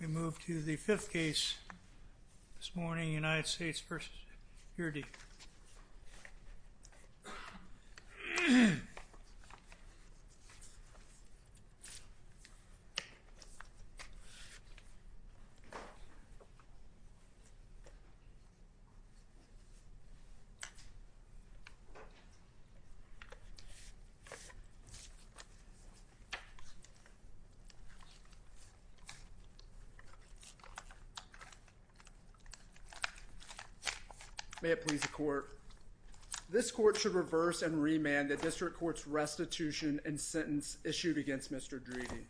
We move to the fifth case this morning, United States v. Dridi. May it please the court. This court should reverse and remand the district court's restitution and sentence issued against Mr. Dridi.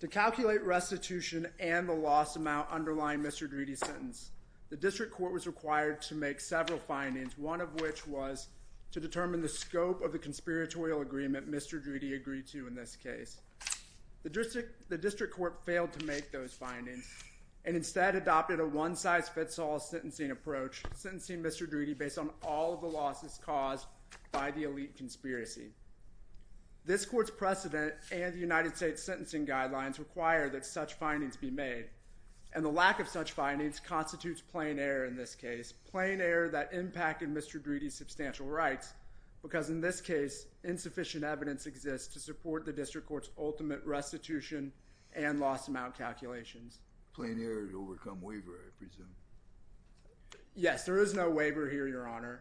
To calculate restitution and the lost amount underlying Mr. Dridi's sentence, the district court was required to make several findings, one of which was to determine the scope of the conspiratorial agreement Mr. Dridi agreed to in this case. The district court failed to make those findings and instead adopted a one-size-fits-all sentencing approach, sentencing Mr. Dridi based on all of the losses caused by the elite conspiracy. This court's precedent and the United States sentencing guidelines require that such findings be made, and the lack of such findings constitutes plain error in this case, plain error that impacted Mr. Dridi's substantial rights, because in this case insufficient evidence exists to support the district court's ultimate restitution and lost amount calculations. Plain error to overcome waiver, I presume. Yes, there is no waiver here, Your Honor.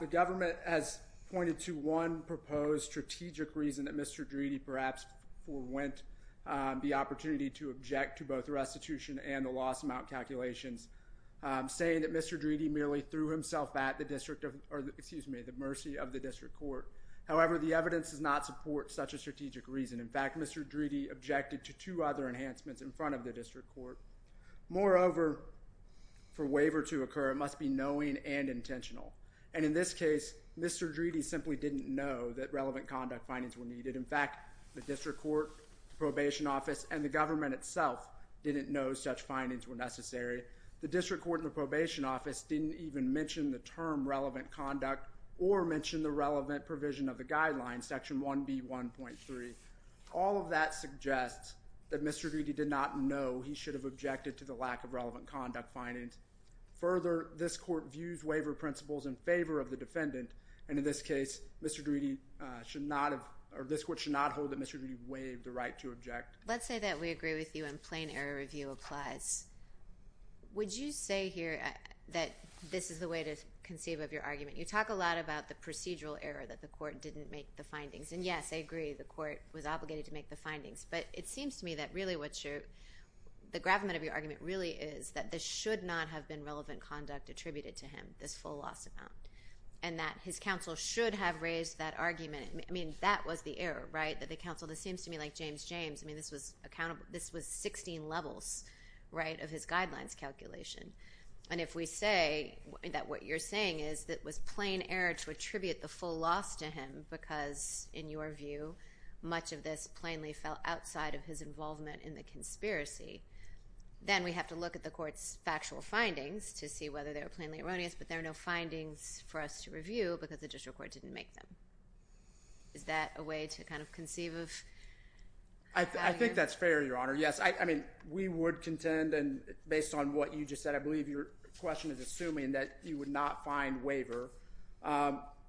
The government has pointed to one proposed strategic reason that Mr. Dridi perhaps forwent the opportunity to object to both restitution and the lost amount calculations, saying that Mr. Dridi merely threw himself at the mercy of the district court. However, the evidence does not support such a strategic reason. In fact, Mr. Dridi objected to two other enhancements in front of the district court. Moreover, for waiver to occur it must be knowing and intentional, and in this case Mr. Dridi simply didn't know that relevant conduct findings were needed. In fact, the district court, probation office, and the government itself didn't know such findings were necessary. The district court and the probation office didn't even mention the term relevant conduct or mention the relevant provision of the guidelines, section 1B1.3. All of that suggests that Mr. Dridi did not know he should have objected to the lack of relevant conduct findings. Further, this court views waiver principles in favor of the defendant, and in this case Mr. Dridi should not have, or this court should not hold that Mr. Dridi waived the right to object. Let's say that we agree with you and plain error review applies. Would you say here that this is the way to conceive of your argument? You talk a lot about the procedural error that the court didn't make the findings, and yes, I agree the court was obligated to make the findings, but it seems to me that really what you're, the gravamen of your argument really is that this should not have been relevant conduct attributed to him, this full loss amount, and that his counsel should have raised that argument. I mean, that was the error, right, that the counsel, this seems to me like James James. I mean, this was 16 levels, right, of his guidelines calculation, and if we say that what you're saying is that it was plain error to attribute the full loss to him because, in your view, much of this plainly fell outside of his involvement in the conspiracy, then we have to look at the court's factual findings to see whether they were plainly erroneous, but there are no findings for us to review because the district court didn't make them. Is that a way to kind of conceive of how you're? I think that's fair, Your Honor. Yes, I mean, we would contend, and based on what you just said, I believe your question is assuming that you would not find waiver.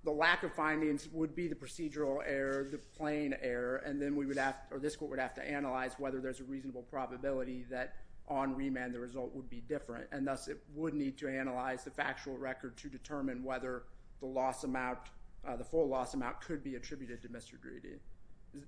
The lack of findings would be the procedural error, the plain error, and then we would have, or this court would have to analyze whether there's a reasonable probability that on remand the result would be different, and thus it would need to analyze the factual record to determine whether the loss amount, the full loss amount, could be attributed to Mr. Grady.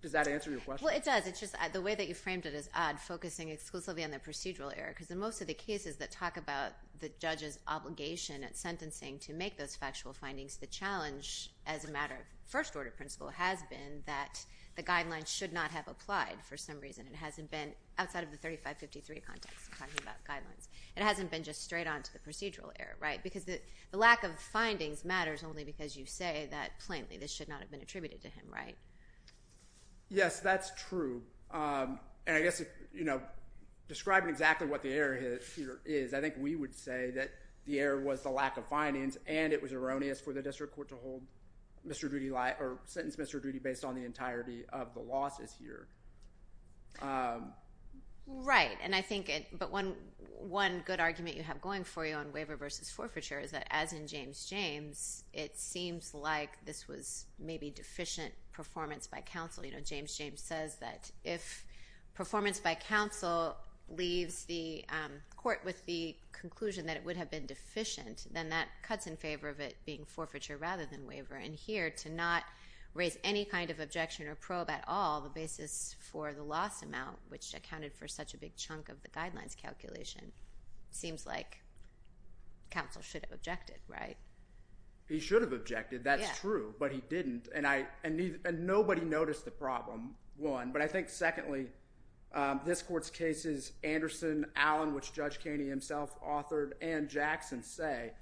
Does that answer your question? Well, it does. It's just the way that you framed it is odd, focusing exclusively on the procedural error because in most of the cases that talk about the judge's obligation at sentencing to make those factual findings, the challenge as a matter of first order principle has been that the guidelines should not have applied for some reason. It hasn't been, outside of the 3553 context, talking about guidelines, it hasn't been just straight on to the procedural error, right? Because the lack of findings matters only because you say that, plainly, this should not have been attributed to him, right? Yes, that's true. And I guess, you know, describing exactly what the error here is, I think we would say that the error was the lack of findings and it was erroneous for the district court to hold Mr. Grady, or sentence Mr. Grady based on the entirety of the losses here. Right, and I think it, but one good argument you have going for you on waiver versus forfeiture is that, as in James James, it seems like this was maybe deficient performance by counsel. You know, James James says that if performance by counsel leaves the court with the conclusion that it would have been deficient, then that cuts in favor of it being forfeiture rather than waiver. And here, to not raise any kind of objection or probe at all, the basis for the loss amount, which accounted for such a big chunk of the guidelines calculation, seems like counsel should have objected, right? He should have objected, that's true, but he didn't. And I, and nobody noticed the problem, one, but I think secondly, this court's cases, Anderson, Allen, which Judge Caney himself authored, and Jackson say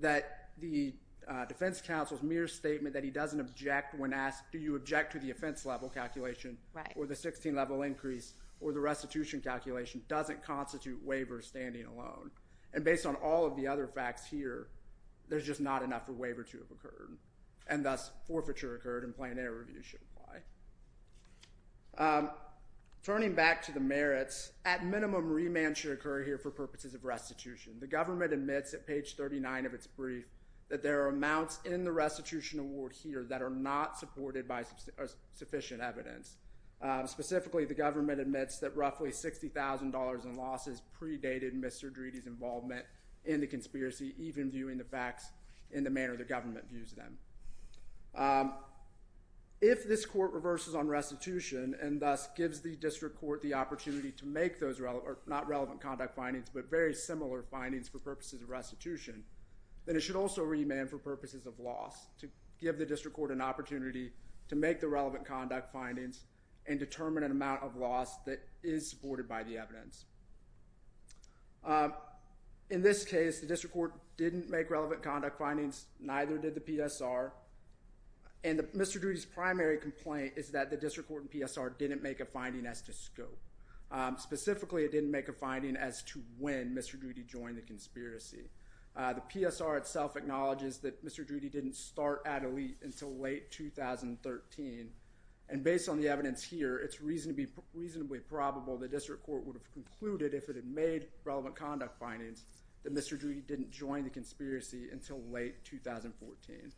that the defense counsel's mere statement that he doesn't object when asked, do you object to the offense level calculation or the 16 level increase or the restitution calculation doesn't constitute waiver standing alone. And based on all of the other facts here, there's just not enough for waiver to have occurred and plain error review should apply. Turning back to the merits, at minimum, remand should occur here for purposes of restitution. The government admits at page 39 of its brief that there are amounts in the restitution award here that are not supported by sufficient evidence. Specifically, the government admits that roughly $60,000 in losses predated Mr. Driede's involvement in the conspiracy, even viewing the facts in the manner the government views them. If this court reverses on restitution and thus gives the district court the opportunity to make those, not relevant conduct findings, but very similar findings for purposes of restitution, then it should also remand for purposes of loss to give the district court an opportunity to make the relevant conduct findings and determine an amount of loss that is supported by the evidence. In this case, the district court didn't make relevant conduct findings, neither did the PSR, and Mr. Driede's primary complaint is that the district court and PSR didn't make a finding as to scope. Specifically, it didn't make a finding as to when Mr. Driede joined the conspiracy. The PSR itself acknowledges that Mr. Driede didn't start at Elite until late 2013, and it's probable the district court would have concluded, if it had made relevant conduct findings, that Mr. Driede didn't join the conspiracy until late 2014.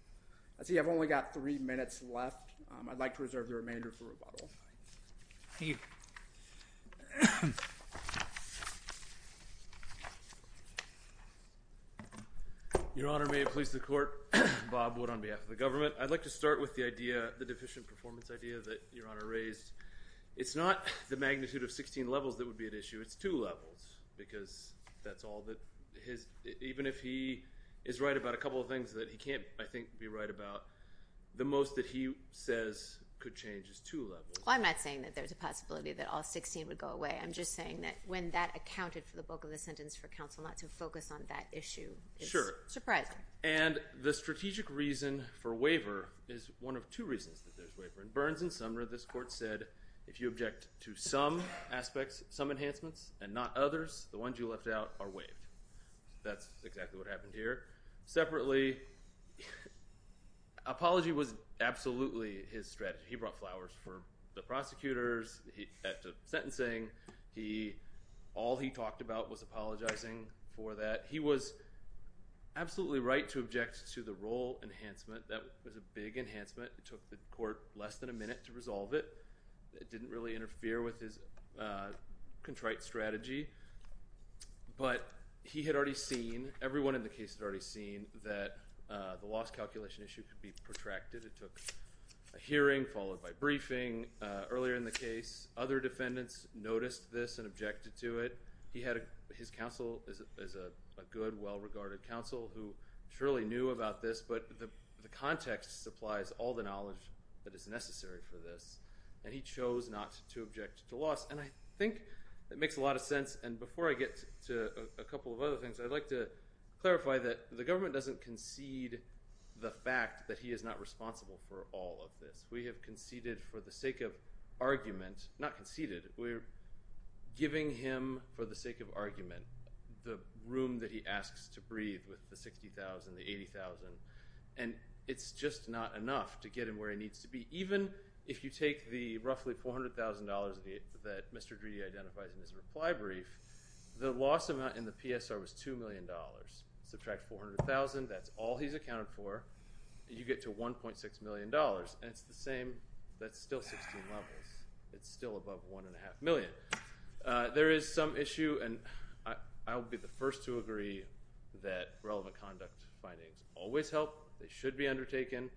I see I've only got three minutes left. I'd like to reserve the remainder for rebuttal. Thank you. Your Honor, may it please the court, Bob Wood on behalf of the government, I'd like to start with the idea, the deficient performance idea that Your Honor raised. It's not the magnitude of 16 levels that would be at issue, it's two levels, because that's all that his, even if he is right about a couple of things that he can't, I think, be right about, the most that he says could change is two levels. Well, I'm not saying that there's a possibility that all 16 would go away, I'm just saying that when that accounted for the bulk of the sentence for counsel not to focus on that issue. Sure. It's surprising. And the strategic reason for waiver is one of two reasons that there's waiver. In Burns and Sumner, this court said, if you object to some aspects, some enhancements, and not others, the ones you left out are waived. That's exactly what happened here. Separately, apology was absolutely his strategy. He brought flowers for the prosecutors at the sentencing. All he talked about was apologizing for that. He was absolutely right to object to the role enhancement. That was a big enhancement. It took the court less than a minute to resolve it. It didn't really interfere with his contrite strategy. But he had already seen, everyone in the case had already seen that the loss calculation issue could be protracted. It took a hearing, followed by briefing. Earlier in the case, other defendants noticed this and objected to it. He had, his counsel is a good, well-regarded counsel who surely knew about this, but the context supplies all the knowledge that is necessary for this, and he chose not to object to loss. I think it makes a lot of sense, and before I get to a couple of other things, I'd like to clarify that the government doesn't concede the fact that he is not responsible for all of this. We have conceded for the sake of argument, not conceded, we're giving him for the sake of argument the room that he asks to breathe with the $60,000, the $80,000, and it's just not enough to get him where he needs to be. Even if you take the roughly $400,000 that Mr. Greedy identifies in his reply brief, the loss amount in the PSR was $2 million. Subtract $400,000, that's all he's accounted for, you get to $1.6 million, and it's the same, that's still 16 levels. It's still above $1.5 million. There is some issue, and I'll be the first to agree that relevant conduct findings always help, they should be undertaken,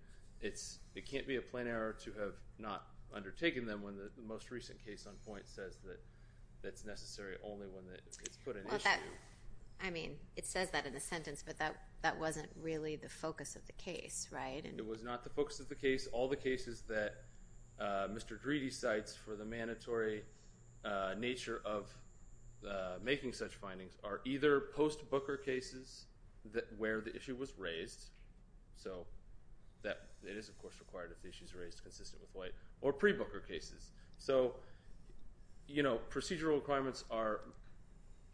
it can't be a plain error to have not undertaken them when the most recent case on point says that it's necessary only when it's put in issue. I mean, it says that in the sentence, but that wasn't really the focus of the case, right? It was not the focus of the case. All the cases that Mr. Greedy cites for the mandatory nature of making such findings are either post-Booker cases where the issue was raised, so it is, of course, required if the issue is raised consistent with White, or pre-Booker cases. So, you know, procedural requirements are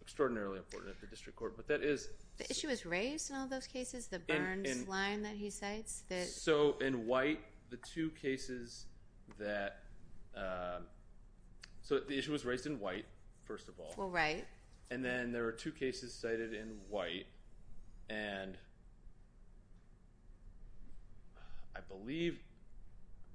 extraordinarily important at the district court, but that is— The issue was raised in all those cases, the Burns line that he cites? So in White, the two cases that—so the issue was raised in White, first of all. Well, right. And then there were two cases cited in White, and I believe,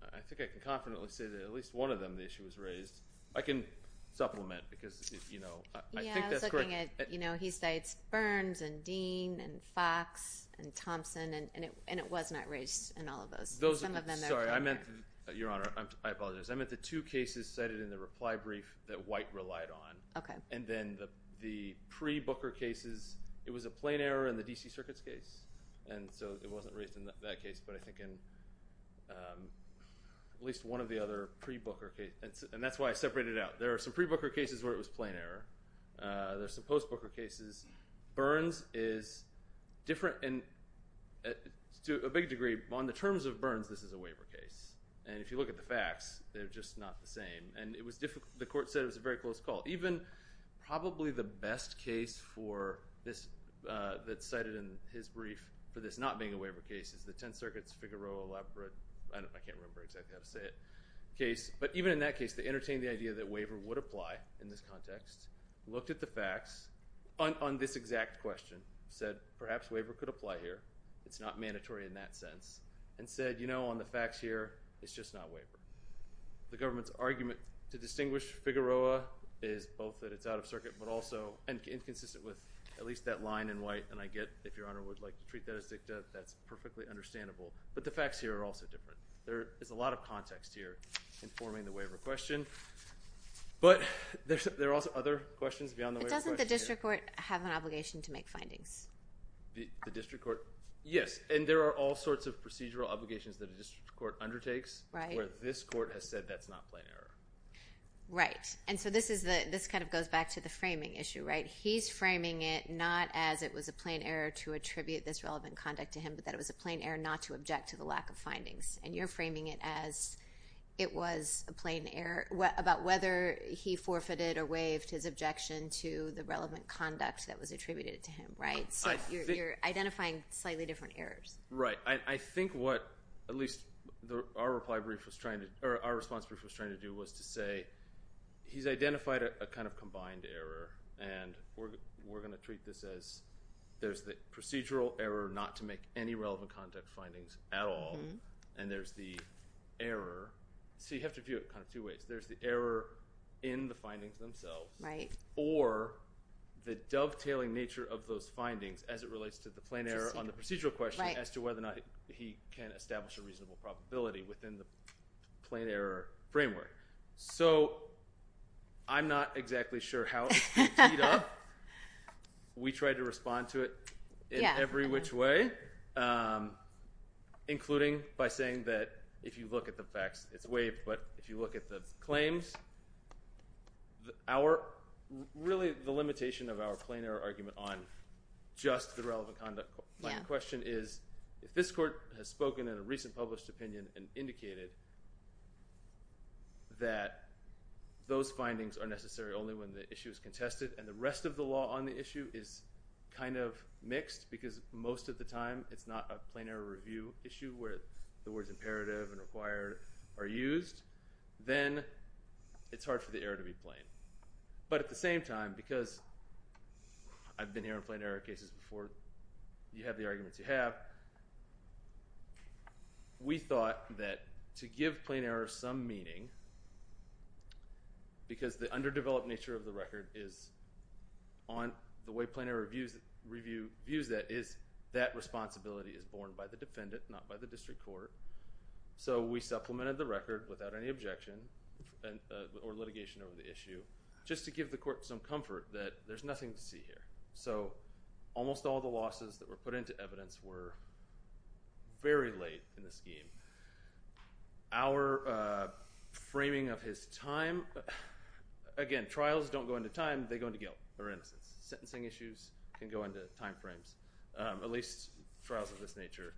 I think I can confidently say that at least one of them, the issue was raised. I can supplement, because, you know, I think that's correct. I'm just saying that, you know, he cites Burns, and Dean, and Fox, and Thompson, and it was not raised in all of those. Those— Some of them— Sorry, I meant—Your Honor, I apologize. I meant the two cases cited in the reply brief that White relied on, and then the pre-Booker cases, it was a plain error in the D.C. Circuit's case, and so it wasn't raised in that case, but I think in at least one of the other pre-Booker cases, and that's why I separated it out. There are some pre-Booker cases where it was plain error. There are some post-Booker cases. Burns is different, and to a big degree, on the terms of Burns, this is a waiver case, and if you look at the facts, they're just not the same, and it was difficult. The Court said it was a very close call. Even probably the best case for this that's cited in his brief for this not being a waiver case is the Tenth Circuit's Figueroa elaborate—I can't remember exactly how to say it—case, but even in that case, they entertained the idea that waiver would apply in this context, looked at the facts on this exact question, said perhaps waiver could apply here. It's not mandatory in that sense, and said, you know, on the facts here, it's just not waiver. The government's argument to distinguish Figueroa is both that it's out of circuit, but also inconsistent with at least that line in White, and I get if Your Honor would like to treat that as dicta, that's perfectly understandable, but the facts here are also different. There is a lot of context here informing the waiver question, but there are also other questions beyond the waiver question. But doesn't the district court have an obligation to make findings? The district court—yes, and there are all sorts of procedural obligations that a district court undertakes where this court has said that's not plain error. Right, and so this kind of goes back to the framing issue, right? He's framing it not as it was a plain error to attribute this relevant conduct to him, but that it was a plain error not to object to the lack of findings, and you're framing it as it was a plain error about whether he forfeited or waived his objection to the relevant conduct that was attributed to him, right? So you're identifying slightly different errors. Right, I think what at least our reply brief was trying to— or our response brief was trying to do was to say he's identified a kind of combined error, and we're going to treat this as there's the procedural error not to make any relevant conduct findings at all, and there's the error— so you have to view it kind of two ways. There's the error in the findings themselves or the dovetailing nature of those findings as it relates to the plain error on the procedural question as to whether or not he can establish a reasonable probability within the plain error framework. So I'm not exactly sure how it's been teed up. We tried to respond to it in every which way, including by saying that if you look at the facts, it's waived, but if you look at the claims, really the limitation of our plain error argument on just the relevant conduct. My question is if this court has spoken in a recent published opinion and indicated that those findings are necessary only when the issue is contested and the rest of the law on the issue is kind of mixed, because most of the time it's not a plain error review issue where the words imperative and required are used, then it's hard for the error to be plain. But at the same time, because I've been hearing plain error cases before you have the arguments you have, we thought that to give plain error some meaning because the underdeveloped nature of the record is on the way plain error views that is that responsibility is borne by the defendant, not by the district court. So we supplemented the record without any objection or litigation over the issue just to give the court some comfort that there's nothing to see here. So almost all the losses that were put into evidence were very late in the scheme. Our framing of his time, again, trials don't go into time, they go into guilt or innocence. Sentencing issues can go into time frames, at least trials of this nature.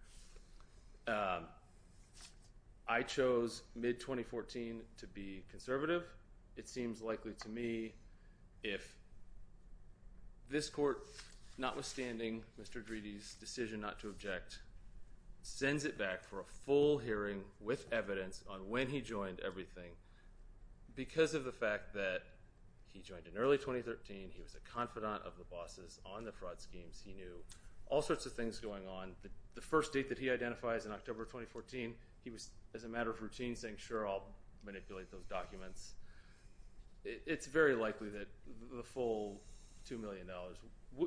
I chose mid-2014 to be conservative. It seems likely to me if this court, notwithstanding Mr. Greedy's decision not to object, sends it back for a full hearing with evidence on when he joined everything because of the fact that he joined in early 2013, he was a confidant of the bosses on the fraud schemes, he knew all sorts of things going on. The first date that he identifies in October 2014, he was, as a matter of routine, saying, it's very likely that the full $2 million,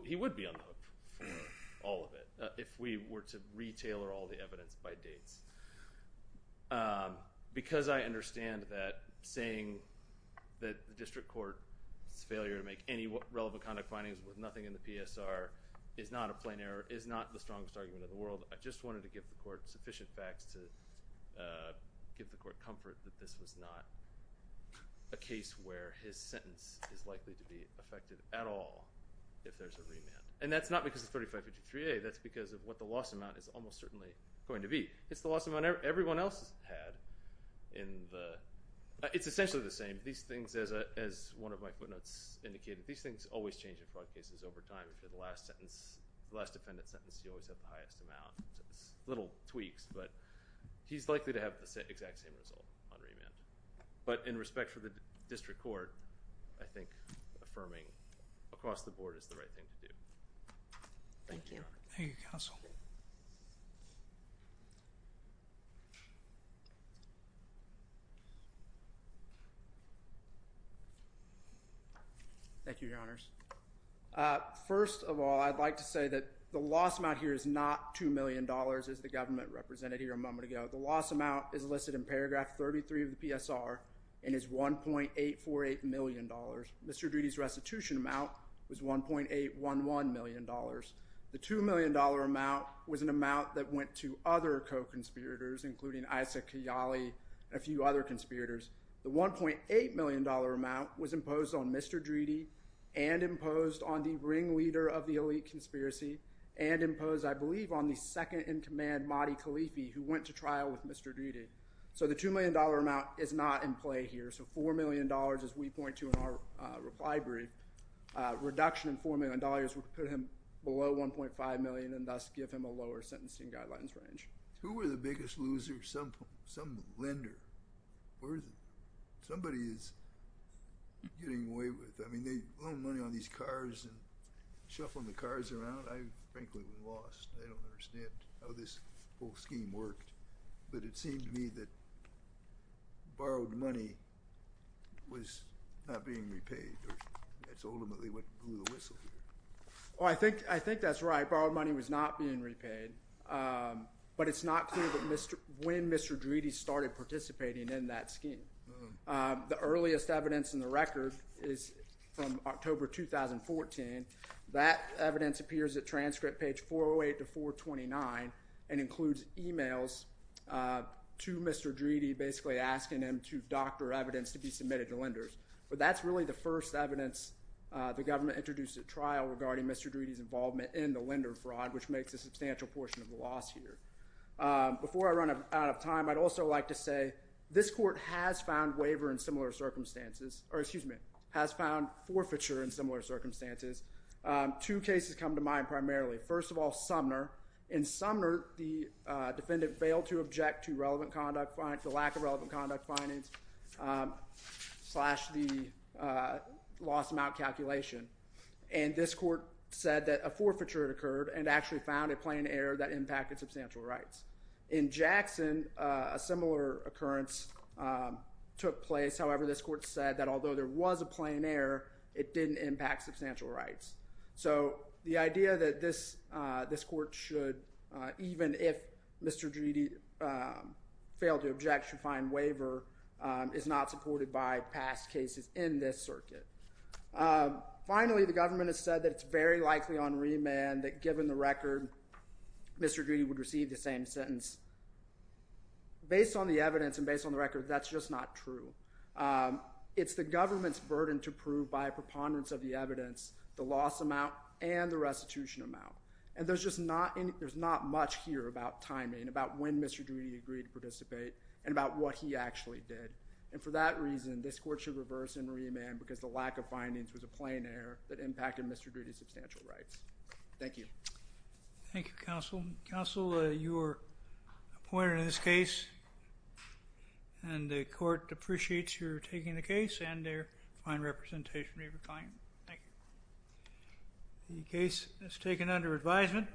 he would be on the hook for all of it if we were to re-tailor all the evidence by dates. Because I understand that saying that the district court's failure to make any relevant conduct findings with nothing in the PSR is not a plain error, is not the strongest argument in the world, I just wanted to give the court sufficient facts to give the court comfort that this was not a case where his sentence is likely to be affected at all if there's a remand. And that's not because of 3553A, that's because of what the loss amount is almost certainly going to be. It's the loss amount everyone else has had in the it's essentially the same. These things, as one of my footnotes indicated, these things always change in fraud cases over time. If you're the last sentence, the last defendant's sentence, you always have the highest amount. It's little tweaks, but he's likely to have the exact same result on remand. But in respect for the district court, I think affirming across the board is the right thing to do. Thank you. Thank you, Counsel. Thank you, Your Honors. First of all, I'd like to say that the loss amount here is not $2 million as the government represented here a moment ago. The loss amount is listed in paragraph 33 of the PSR and is $1.848 million. Mr. Driede's restitution amount was $1.811 million. The $2 million amount was an amount that went to other co-conspirators, including Isaac Kiyali and a few other conspirators. The $1.8 million amount was imposed on Mr. Driede and imposed on the ringleader of the elite conspiracy and imposed, I believe, on the second-in-command, Mahdi Khalifi, who went to trial with Mr. Driede. So the $2 million amount is not in play here. So $4 million, as we point to in our reply brief, reduction in $4 million would put him below $1.5 million and thus give him a lower sentencing guidelines range. Who were the biggest losers? Some lender. Somebody is getting away with it. I mean, they loan money on these cars and frankly, we lost. I don't understand how this whole scheme worked. But it seemed to me that borrowed money was not being repaid. That's ultimately what blew the whistle here. Oh, I think that's right. Borrowed money was not being repaid. But it's not clear when Mr. Driede started participating in that scheme. The earliest evidence in the record is from October 2014. That evidence appears at transcript page 408 to 429 and includes emails to Mr. Driede basically asking him to doctor evidence to be submitted to lenders. But that's really the first evidence the government introduced at trial regarding Mr. Driede's involvement in the lender fraud, which makes a substantial portion of the loss here. Before I run out of time, I'd also like to say this court has found waiver in similar circumstances, or excuse me, has found forfeiture in similar circumstances. Two cases come to mind primarily. First of all, Sumner. In Sumner, the defendant failed to object to the lack of relevant conduct findings slash the lost amount calculation. And this court said that a forfeiture had occurred and actually found a plain error that impacted substantial rights. In Jackson, a similar occurrence took place. However, this court said that although there was a plain error, it didn't impact substantial rights. So the idea that this court should even if Mr. Driede failed to object, should find waiver is not supported by past cases in this circuit. Finally, the government has said that it's very likely on remand that given the record, Mr. Driede would receive the same sentence. Based on the evidence and based on the record, that's just not true. It's the government's burden to prove by a preponderance of the evidence, the loss amount, and the restitution amount. And there's just not much here about timing, about when Mr. Driede agreed to participate, and about what he actually did. And for that reason, this court should reverse and remand because the lack of findings was a plain error that impacted Mr. Driede's substantial rights. Thank you. Thank you, counsel. Counsel, your point in this case and the court appreciates your taking the case and their fine representation. Thank you. The case is taken under advisement.